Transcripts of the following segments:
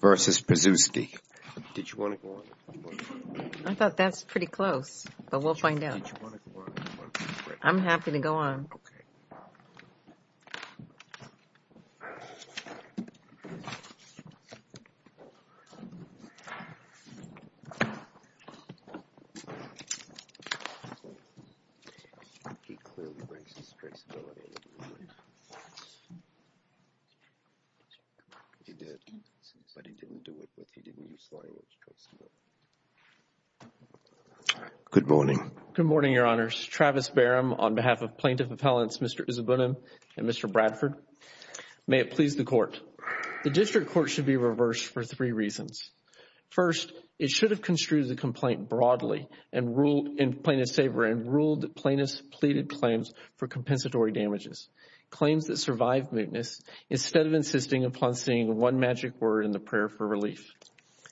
versus Preczewski. I thought that's pretty close but we'll find out. I'm happy to go on. Good morning. Good morning, Your Honors. Travis Barham on behalf of Plaintiff Appellants Mr. Uzuebunam and Mr. Bradford. May it please the Court. The District Court should be reversed for three reasons. First, it should have construed the complaint broadly and ruled in plaintiff's favor and ruled plaintiffs pleaded claims for compensatory damages. Claims that insisted upon seeing one magic word in the prayer for relief.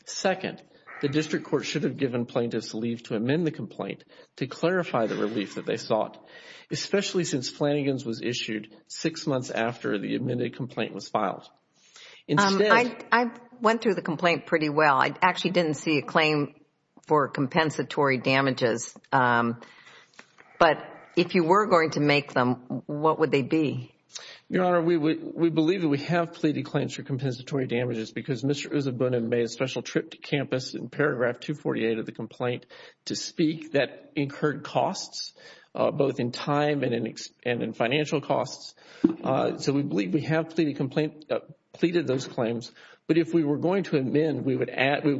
Second, the District Court should have given plaintiffs leave to amend the complaint to clarify the relief that they sought, especially since Flanagan's was issued six months after the amended complaint was filed. I went through the complaint pretty well. I actually didn't see a claim for compensatory damages but if you were going to make them, what would they be? Your Honor, we believe that we have pleaded claims for compensatory damages because Mr. Uzuebunam made a special trip to campus in paragraph 248 of the complaint to speak that incurred costs, both in time and in financial costs. So we believe we have pleaded those claims but if we were going to amend, we would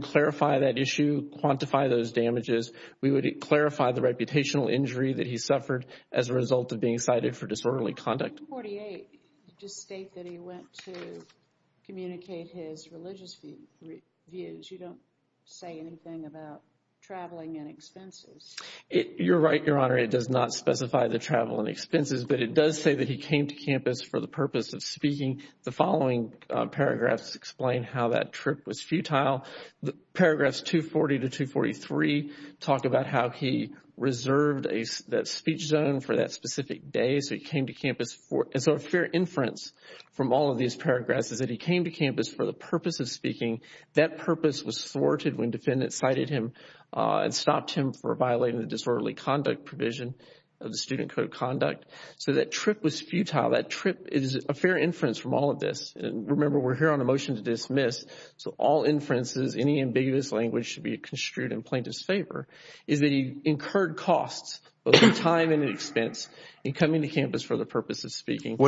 clarify that issue, quantify those damages. We would clarify the reputational injury that he suffered as a result of being cited for communicating his religious views. You don't say anything about traveling and expenses. You're right, Your Honor. It does not specify the travel and expenses but it does say that he came to campus for the purpose of speaking. The following paragraphs explain how that trip was futile. The paragraphs 240 to 243 talk about how he reserved that speech zone for that specific day. So he came to campus for the purpose of speaking. That purpose was thwarted when defendants cited him and stopped him for violating the disorderly conduct provision of the Student Code of Conduct. So that trip was futile. That trip is a fair inference from all of this. Remember, we're here on a motion to dismiss. So all inferences, any ambiguous language should be construed in plaintiff's favor, is that he incurred costs, both in time and in expense, in coming to campus for the purpose of speaking.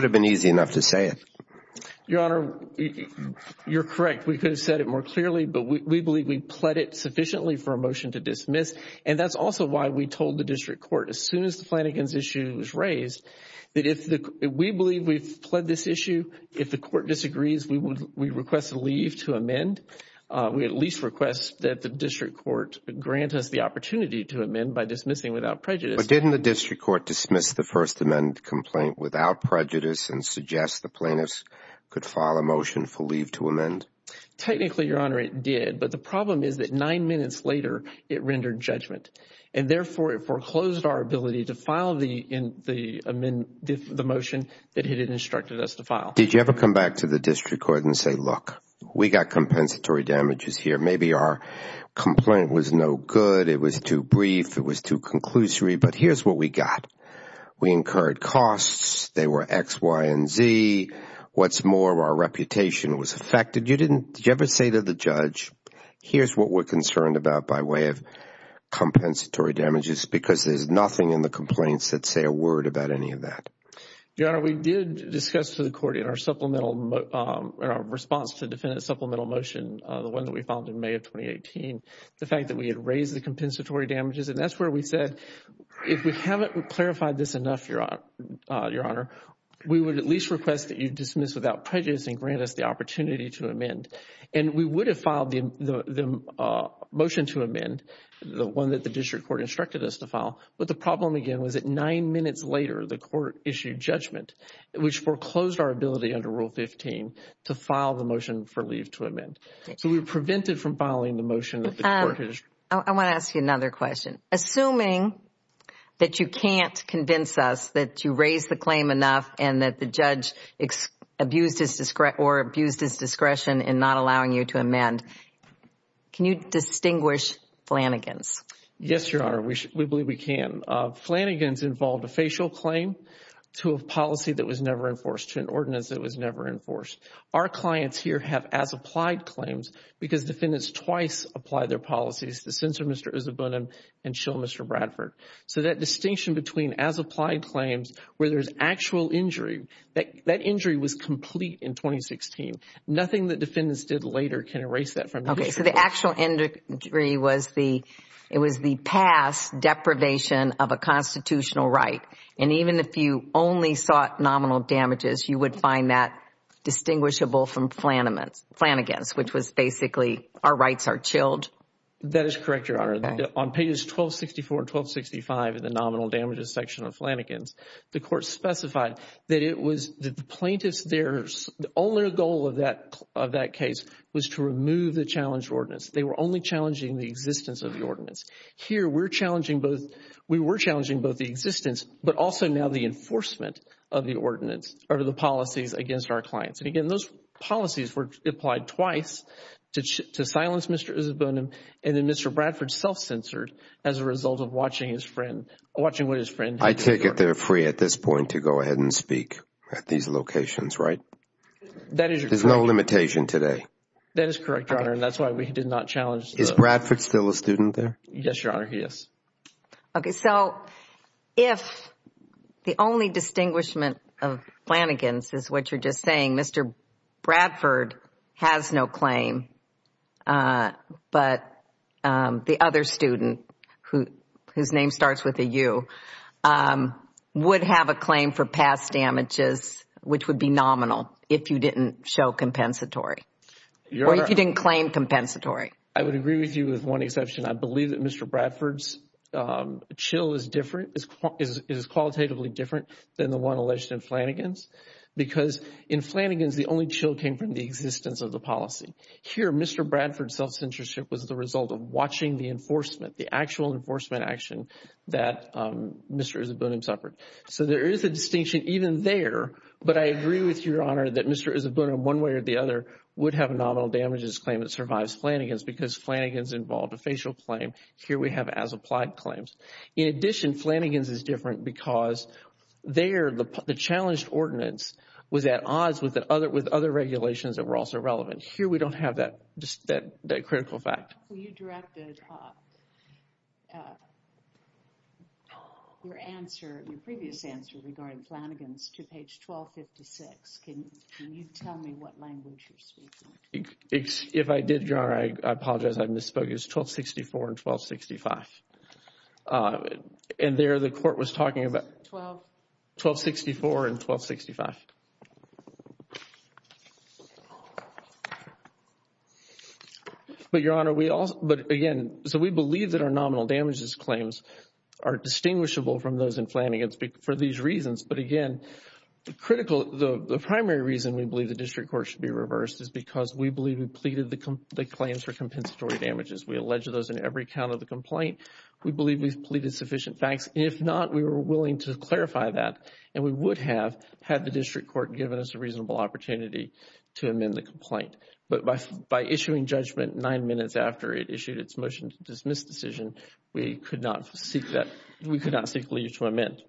Your Honor, you're correct. We could have said it more clearly but we believe we pled it sufficiently for a motion to dismiss and that's also why we told the district court as soon as the Flanagan's issue was raised that if we believe we've pled this issue, if the court disagrees, we would we request a leave to amend. We at least request that the district court grant us the opportunity to amend by dismissing without prejudice. But didn't the district court dismiss the First Plaintiff's, could file a motion for leave to amend? Technically, Your Honor, it did but the problem is that nine minutes later it rendered judgment and therefore it foreclosed our ability to file the motion that it had instructed us to file. Did you ever come back to the district court and say, look, we got compensatory damages here. Maybe our complaint was no good. It was too brief. It was too long. What's more, our reputation was affected. Did you ever say to the judge, here's what we're concerned about by way of compensatory damages because there's nothing in the complaints that say a word about any of that? Your Honor, we did discuss to the court in our response to the defendant's supplemental motion, the one that we filed in May of 2018, the fact that we had raised the compensatory damages and that's where we said if we haven't clarified this enough, Your Honor, we would at least request that you dismiss without prejudice and grant us the opportunity to amend. And we would have filed the motion to amend, the one that the district court instructed us to file, but the problem again was that nine minutes later the court issued judgment which foreclosed our ability under Rule 15 to file the motion for leave to amend. So we were prevented from filing the motion. I want to ask you another question. Assuming that you can't convince us that you raised the claim enough and that the judge abused his discretion in not allowing you to amend, can you distinguish Flanagan's? Yes, Your Honor, we believe we can. Flanagan's involved a facial claim to a policy that was never enforced, to an ordinance that was never enforced. Our clients here have as applied claims because defendants twice apply their policies, the sentence of Mr. Isabunim and Schill Mr. Bradford. So that distinction between as applied claims where there's actual injury, that injury was complete in 2016. Nothing that defendants did later can erase that from the case. Okay, so the actual injury was the, it was the past deprivation of a constitutional right and even if you only sought nominal damages, you would find that distinguishable from Flanagan's, which was basically our rights are chilled? That is correct, Your The court specified that it was the plaintiff's, their, the only goal of that of that case was to remove the challenge ordinance. They were only challenging the existence of the ordinance. Here we're challenging both, we were challenging both the existence but also now the enforcement of the ordinance or the policies against our clients. And again, those policies were applied twice to silence Mr. Isabunim and then Mr. Bradford self-censored as a result of watching his friend, watching what his friend. I take it they're free at this point to go ahead and speak at these locations, right? That is, there's no limitation today. That is correct, Your Honor, and that's why we did not challenge. Is Bradford still a student there? Yes, Your Honor, he is. Okay, so if the only distinguishment of Flanagan's is what you're just saying, Mr. Bradford has no claim but the other student who, his name starts with a U, would have a claim for past damages which would be nominal if you didn't show compensatory or if you didn't claim compensatory. I would agree with you with one exception. I believe that Mr. Bradford's chill is different, is qualitatively different than the one alleged in Flanagan's because in Flanagan's the only chill came from the existence of the policy. Here, Mr. Bradford's self-censorship was the result of watching the enforcement, the actual enforcement action that Mr. Isabunim suffered. So there is a distinction even there but I agree with Your Honor that Mr. Isabunim, one way or the other, would have a nominal damages claim that survives Flanagan's because Flanagan's involved a facial claim. Here we have as-applied claims. In addition, Flanagan's is different because there, the challenged ordinance was at odds with other regulations that were also relevant. Here we don't have that critical fact. You directed your answer, your previous answer regarding Flanagan's to page 1256. Can you tell me what language you're speaking? If I did, Your Honor, I apologize. I misspoke. It was 1264 and 1265. And there the court was talking about 1264 and 1265. But Your Honor, we also, but again, so we believe that our nominal damages claims are distinguishable from those in Flanagan's for these reasons. But again, the critical, the primary reason we believe the district court should be reversed is because we believe we pleaded the claims for compensatory damages. We allege those in every count of the complaint. We believe we've pleaded sufficient facts. If not, we were willing to clarify that and we would have had the district court given us a reasonable opportunity to amend the complaint. But by issuing judgment nine minutes after it issued its motion to dismiss decision, we could not seek that, we could not seek leave to amend.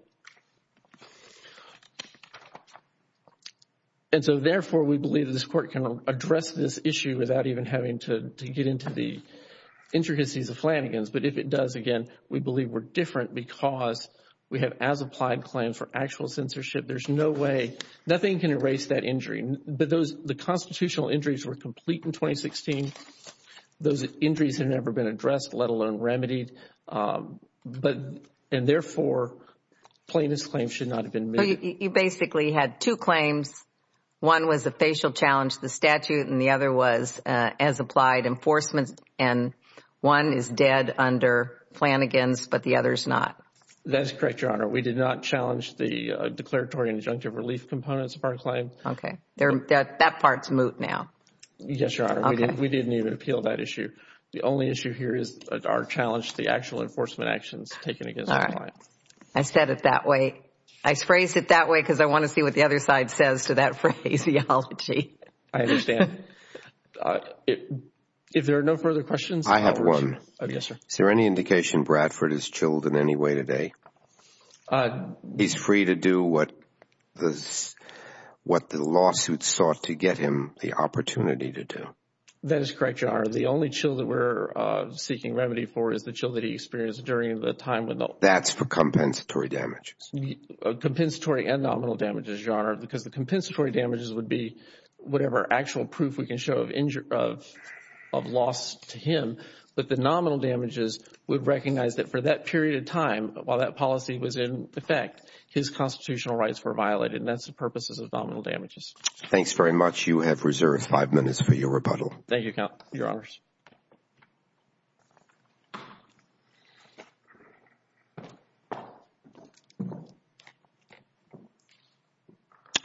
And so therefore, we believe this court can address this issue without even having to get into the intricacies of Flanagan's. But if it does, again, we believe we're different because we have as applied claims for actual censorship. There's no way, nothing can erase that injury. But those, the constitutional injuries were complete in 2016. Those injuries have never been addressed, let alone remedied. And therefore, plaintiff's claims should not have been made. You basically had two claims. One was a facial challenge to the statute and the other was as applied enforcement and one is dead under Flanagan's but the other is not. That is correct, Your Honor. We did not challenge the declaratory and injunctive relief components of our claim. Okay. That part is moot now. Yes, Your Honor. We didn't even appeal that issue. The only issue here is our challenge to the actual enforcement actions taken against the client. All right. I said it that way. I phrased it that way because I want to see what the other side says to that phraseology. I understand. If there are no further questions. I have one. Yes, sir. Is there any indication Bradford is chilled in any way today? He's free to do what the lawsuit sought to get him the opportunity to do. That is correct, Your Honor. The only chill that we're seeking remedy for is the chill that he experienced during the time when the That's for compensatory damages. Compensatory and nominal damages, Your Honor, because the compensatory damages would be whatever actual proof we can show of loss to him. But the nominal damages would recognize that for that period of time, while that policy was in effect, his constitutional rights were violated. That's the purposes of nominal damages. Thanks very much. You have reserved five minutes for your rebuttal. Thank you, Your Honors.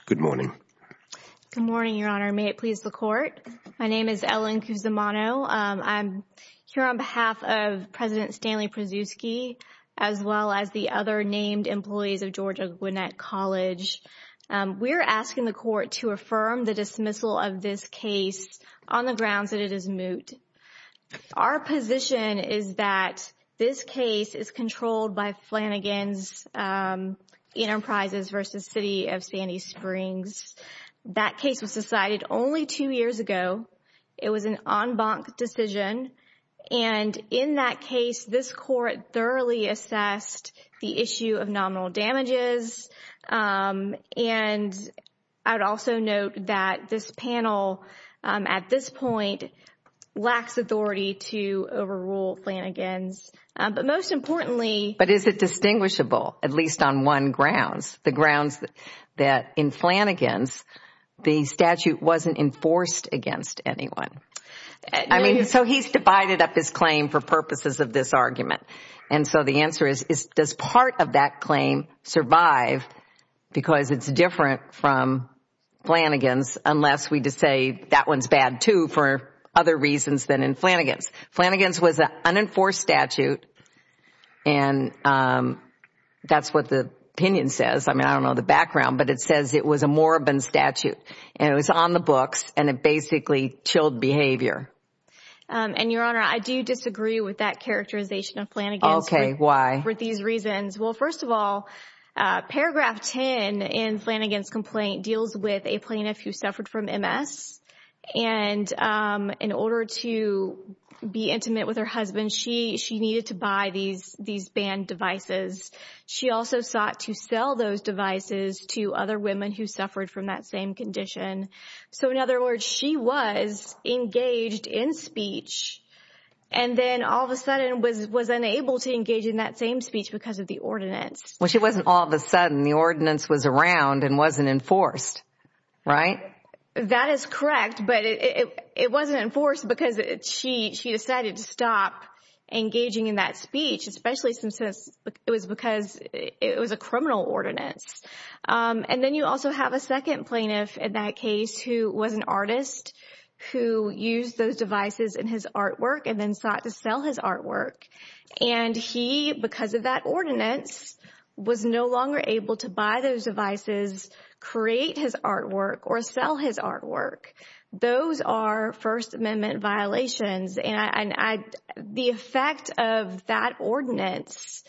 Good morning. Good morning, Your Honor. May it please the court. My name is Ellen Cusimano. I'm here on behalf of President Stanley Przewski, as well as the other named employees of Georgia Gwinnett College. We're asking the court to affirm the dismissal of this case on the grounds that it is moot. Our position is that this case is controlled by Flanagan's Enterprises v. City of Sandy Springs. That case was decided only two years ago. It was an en banc decision. In that case, this court thoroughly assessed the issue of nominal damages. I would also note that this panel, at this point, lacks authority to overrule Flanagan's, but most importantly But is it distinguishable, at least on one grounds? The grounds that in Flanagan's, the statute wasn't enforced against anyone. So he's divided up his claim for purposes of this argument. And so the answer is, does part of that claim survive because it's different from Flanagan's, unless we just say that one's bad, too, for other reasons than in Flanagan's. Flanagan's was an unenforced statute, and that's what the opinion says. I mean, I don't know the background, but it says it was a moribund statute, and it was on the books, and it basically chilled behavior. And, Your Honor, I do disagree with that characterization of Flanagan's Okay, why? for these reasons. Well, first of all, paragraph 10 in Flanagan's complaint deals with a plaintiff who suffered from MS, and in order to be intimate with her husband, she needed to buy these banned devices. She also sought to sell those devices to other women who suffered from that same condition. So, in other words, she was engaged in speech, and then all of a sudden was unable to engage in that same speech because of the ordinance. Well, she wasn't all of a sudden. The ordinance was around and wasn't enforced, right? That is correct, but it wasn't enforced because she decided to stop engaging in that speech, especially since it was because it was a criminal ordinance. And then you also have a second plaintiff in that case who was an artist who used those devices in his artwork and then sought to sell his artwork, and he, because of that ordinance, was no longer able to buy those devices, create his artwork, or sell his artwork. Those are First Amendment violations, and the effect of that ordinance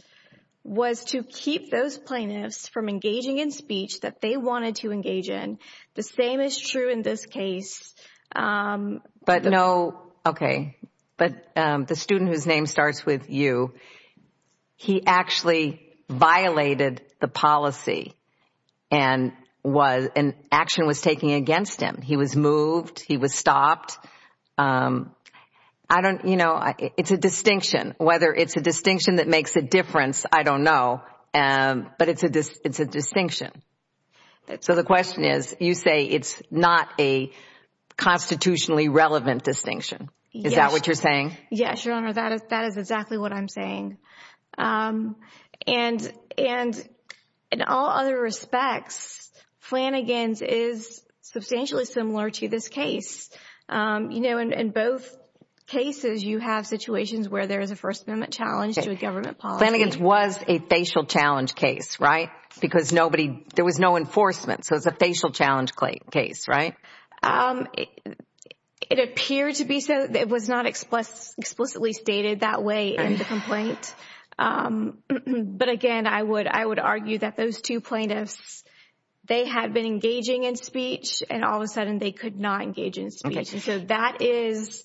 was to keep those plaintiffs from engaging in speech that they wanted to engage in. The same is true in this case. But no, okay, but the student whose name starts with U, he actually violated the policy and action was taken against him. He was moved. He was stopped. I don't, you know, it's a distinction. Whether it's a distinction that makes a difference, I don't know, but it's a distinction. So the question is, you say it's not a constitutionally relevant distinction. Is that what you're saying? Yes, Your Honor, that is exactly what I'm saying. And in all other respects, Flanagan's is substantially similar to this case. You know, in both cases, you have situations where there is a First Amendment challenge to a government policy. Flanagan's was a facial challenge case, right, because nobody, there was no enforcement, so it's a facial challenge case, right? It appeared to be so. It was not explicitly stated that way in the complaint. But again, I would argue that those two plaintiffs, they had been engaging in speech, and all of a sudden they could not engage in speech. So that is,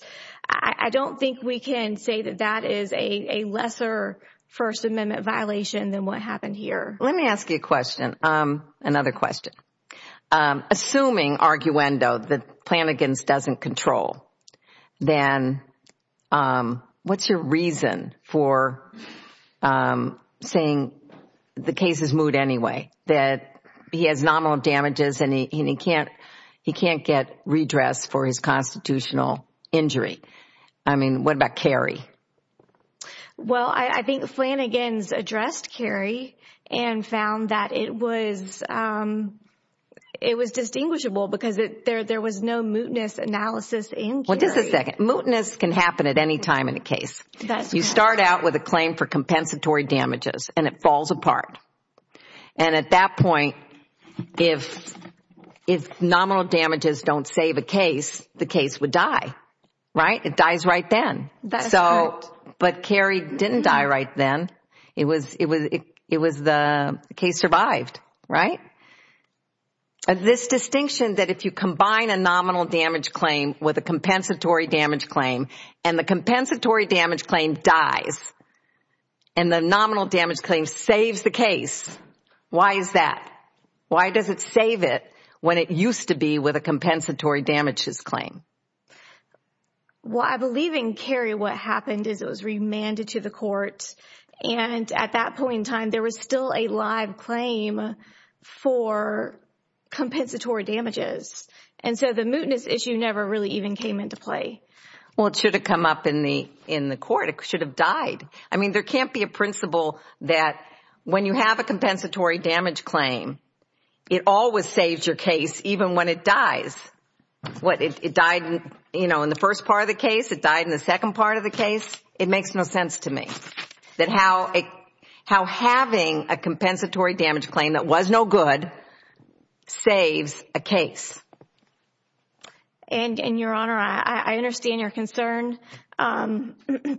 I don't think we can say that that is a lesser First Amendment violation than what happened here. Let me ask you a question, another question. Assuming, arguendo, that Flanagan's doesn't control, then what's your reason for saying the case is moved anyway, that he has nominal damages and he can't get redressed for his constitutional injury? I mean, what about Cary? Well, I think Flanagan's addressed Cary and found that it was distinguishable because there was no mootness analysis in Cary. Well, just a second. Mootness can happen at any time in a case. You start out with a claim for compensatory damages, and it falls apart. And at that point, if nominal damages don't save a case, the case would die, right? It dies right then. But Cary didn't die right then. It was the case survived, right? This distinction that if you combine a nominal damage claim with a compensatory damage claim, and the compensatory damage claim dies, and the nominal damage claim saves the case, why is that? Why does it save it when it used to be with a compensatory damages claim? Well, I believe in Cary what happened is it was remanded to the court, and at that point in time there was still a live claim for compensatory damages. And so the mootness issue never really even came into play. Well, it should have come up in the court. It should have died. I mean, there can't be a principle that when you have a compensatory damage claim, it always saves your case even when it dies. It died in the first part of the case. It died in the second part of the case. It makes no sense to me that how having a compensatory damage claim that was no good saves a case. And, Your Honor, I understand your concern.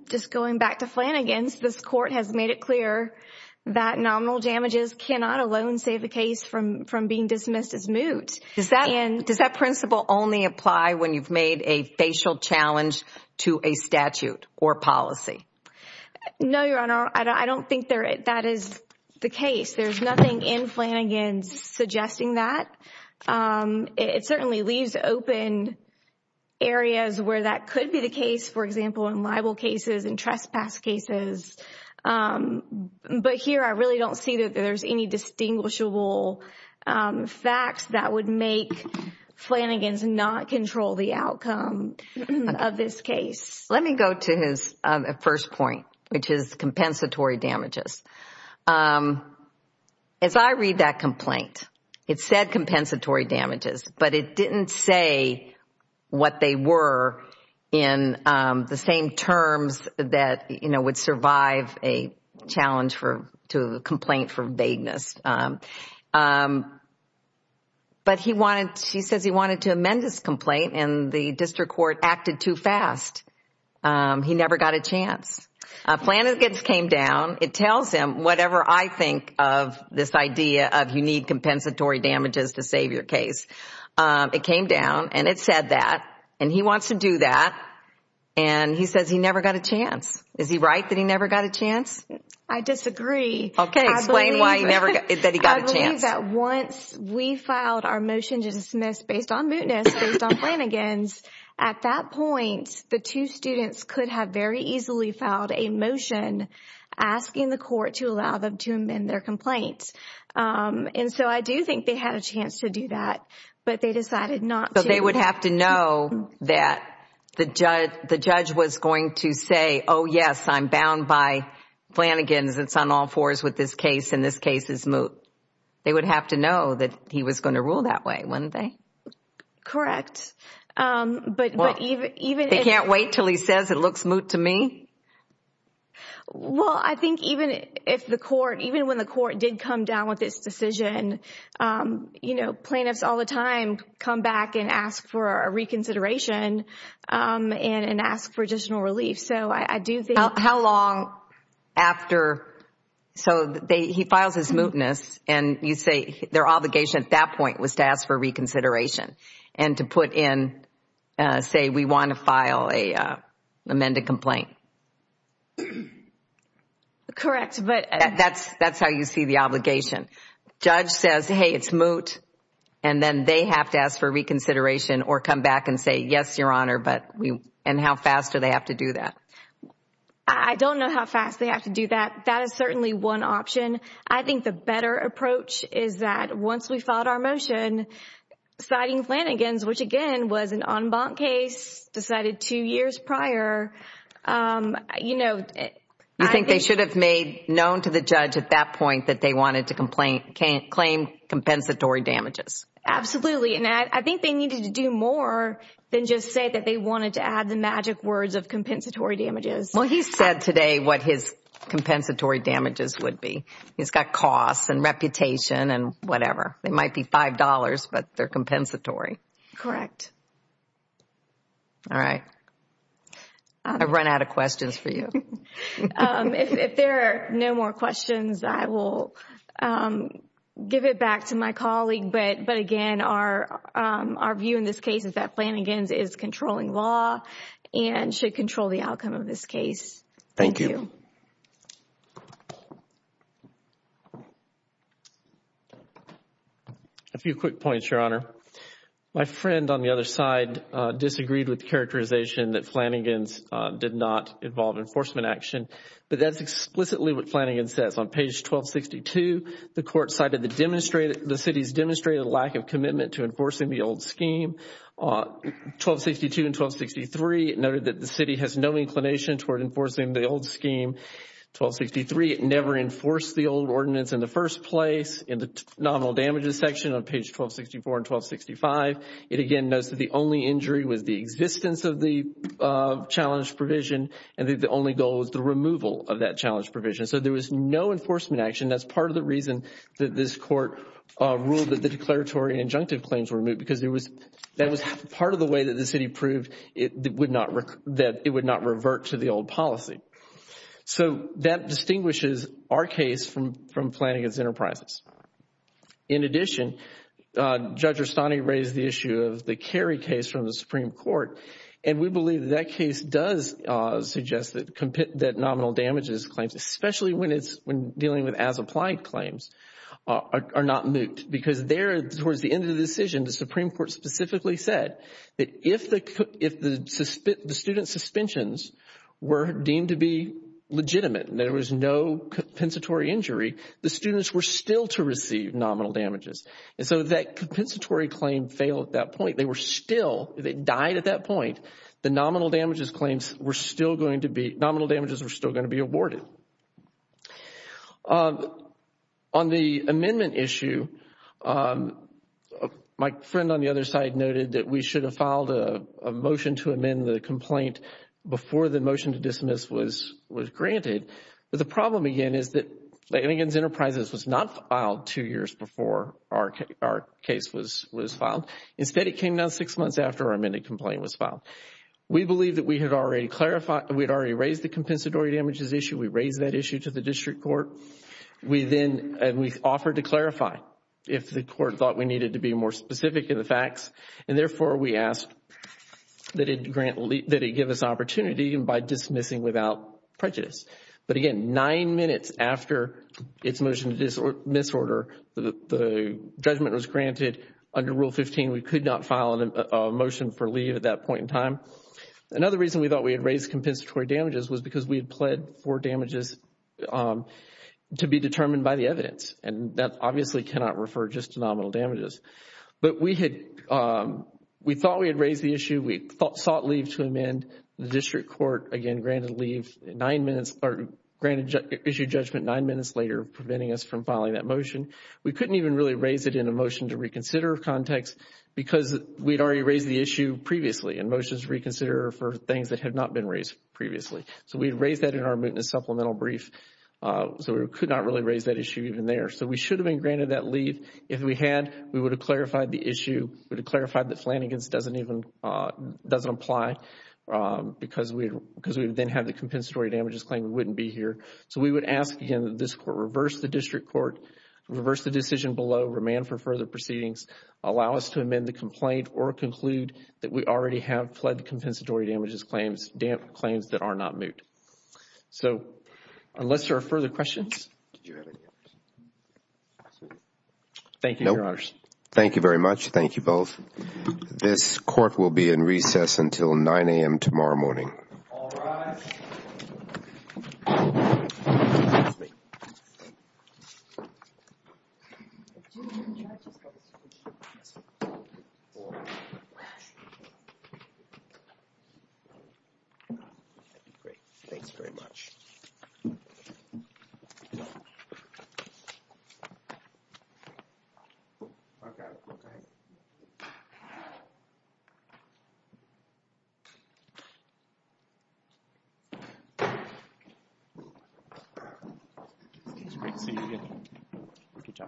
Just going back to Flanagan's, this court has made it clear that nominal damages cannot alone save a case from being dismissed as moot. Does that principle only apply when you've made a facial challenge to a statute or policy? No, Your Honor, I don't think that is the case. There's nothing in Flanagan's suggesting that. It certainly leaves open areas where that could be the case, for example, in libel cases and trespass cases. But here I really don't see that there's any distinguishable facts that would make Flanagan's not control the outcome of this case. Let me go to his first point, which is compensatory damages. As I read that complaint, it said compensatory damages, but it didn't say what they were in the same terms that would survive a challenge to a complaint for vagueness. But he wanted, he says he wanted to amend his complaint, and the district court acted too fast. He never got a chance. Flanagan's came down. It tells him whatever I think of this idea of you need compensatory damages to save your case. It came down, and it said that, and he wants to do that, and he says he never got a chance. Is he right that he never got a chance? I disagree. Explain why he never got a chance. I believe that once we filed our motion to dismiss based on mootness, based on Flanagan's, at that point, the two students could have very easily filed a motion asking the court to allow them to amend their complaint. And so I do think they had a chance to do that, but they decided not to. But they would have to know that the judge was going to say, oh, yes, I'm bound by Flanagan's, it's on all fours with this case, and this case is moot. They would have to know that he was going to rule that way, wouldn't they? Correct. They can't wait until he says it looks moot to me? Well, I think even if the court, even when the court did come down with this decision, you know, plaintiffs all the time come back and ask for a reconsideration and ask for additional relief. So I do think they have to know. How long after, so he files his mootness, and you say their obligation at that point was to ask for reconsideration and to put in, say, we want to file an amended complaint. Correct. That's how you see the obligation. Judge says, hey, it's moot, and then they have to ask for reconsideration or come back and say, yes, Your Honor, and how fast do they have to do that? I don't know how fast they have to do that. That is certainly one option. I think the better approach is that once we filed our motion, citing Flanagan's, which, again, was an en banc case decided two years prior, you know, I think they should have made known to the judge at that point that they wanted to claim compensatory damages. Absolutely, and I think they needed to do more than just say that they wanted to add the magic words of compensatory damages. Well, he said today what his compensatory damages would be. He's got costs and reputation and whatever. They might be $5, but they're compensatory. Correct. All right. I've run out of questions for you. If there are no more questions, I will give it back to my colleague. But, again, our view in this case is that Flanagan's is controlling law and should control the outcome of this case. Thank you. Thank you. A few quick points, Your Honor. My friend on the other side disagreed with the characterization that Flanagan's did not involve enforcement action. But that's explicitly what Flanagan's says. On page 1262, the court cited the city's demonstrated lack of commitment to enforcing the old scheme. 1262 and 1263 noted that the city has no inclination toward enforcing the old scheme. 1263, it never enforced the old ordinance in the first place. In the nominal damages section on page 1264 and 1265, it, again, notes that the only injury was the existence of the challenge provision and that the only goal was the removal of that challenge provision. So there was no enforcement action. That's part of the reason that this court ruled that the declaratory and injunctive claims were removed because that was part of the way that the city proved that it would not revert to the old policy. So that distinguishes our case from Flanagan's enterprises. In addition, Judge Rustani raised the issue of the Cary case from the Supreme Court, and we believe that that case does suggest that nominal damages claims, especially when dealing with as-applied claims, are not moot because there, towards the end of the decision, the Supreme Court specifically said that if the student suspensions were deemed to be legitimate and there was no compensatory injury, the students were still to receive nominal damages. And so that compensatory claim failed at that point. They were still, they died at that point. The nominal damages claims were still going to be, nominal damages were still going to be awarded. On the amendment issue, my friend on the other side noted that we should have filed a motion to amend the complaint before the motion to dismiss was granted. But the problem again is that Flanagan's enterprises was not filed two years before our case was filed. Instead, it came down six months after our amended complaint was filed. We believe that we had already raised the compensatory damages issue. We raised that issue to the district court. We then, and we offered to clarify if the court thought we needed to be more specific in the facts, and therefore, we asked that it grant, that it give us opportunity by dismissing without prejudice. But again, nine minutes after its motion to disorder, the judgment was granted under Rule 15. We could not file a motion for leave at that point in time. Another reason we thought we had raised compensatory damages was because we pled for damages to be determined by the evidence, and that obviously cannot refer just to nominal damages. But we had, we thought we had raised the issue. We thought, sought leave to amend. The district court, again, granted leave nine minutes, or granted issue judgment nine minutes later, preventing us from filing that motion. We couldn't even really raise it in a motion to reconsider context because we'd already raised the issue previously in motions to reconsider for things that had not been raised previously. So we'd raised that in our mootness supplemental brief. So we could not really raise that issue even there. So we should have been granted that leave. If we had, we would have clarified the issue, would have clarified that Flanagan's doesn't even, doesn't apply because we then have the compensatory damages claim, we wouldn't be here. So we would ask, again, that this court reverse the district court, reverse the decision below, remand for further proceedings, allow us to amend the complaint or conclude that we already have fled compensatory damages claims, claims that are not moot. So unless there are further questions. Thank you, your honors. Thank you very much. Thank you both. This court will be in recess until 9 a.m. tomorrow morning. All rise. Great. Thanks very much. Okay. Okay. See you again. Good job.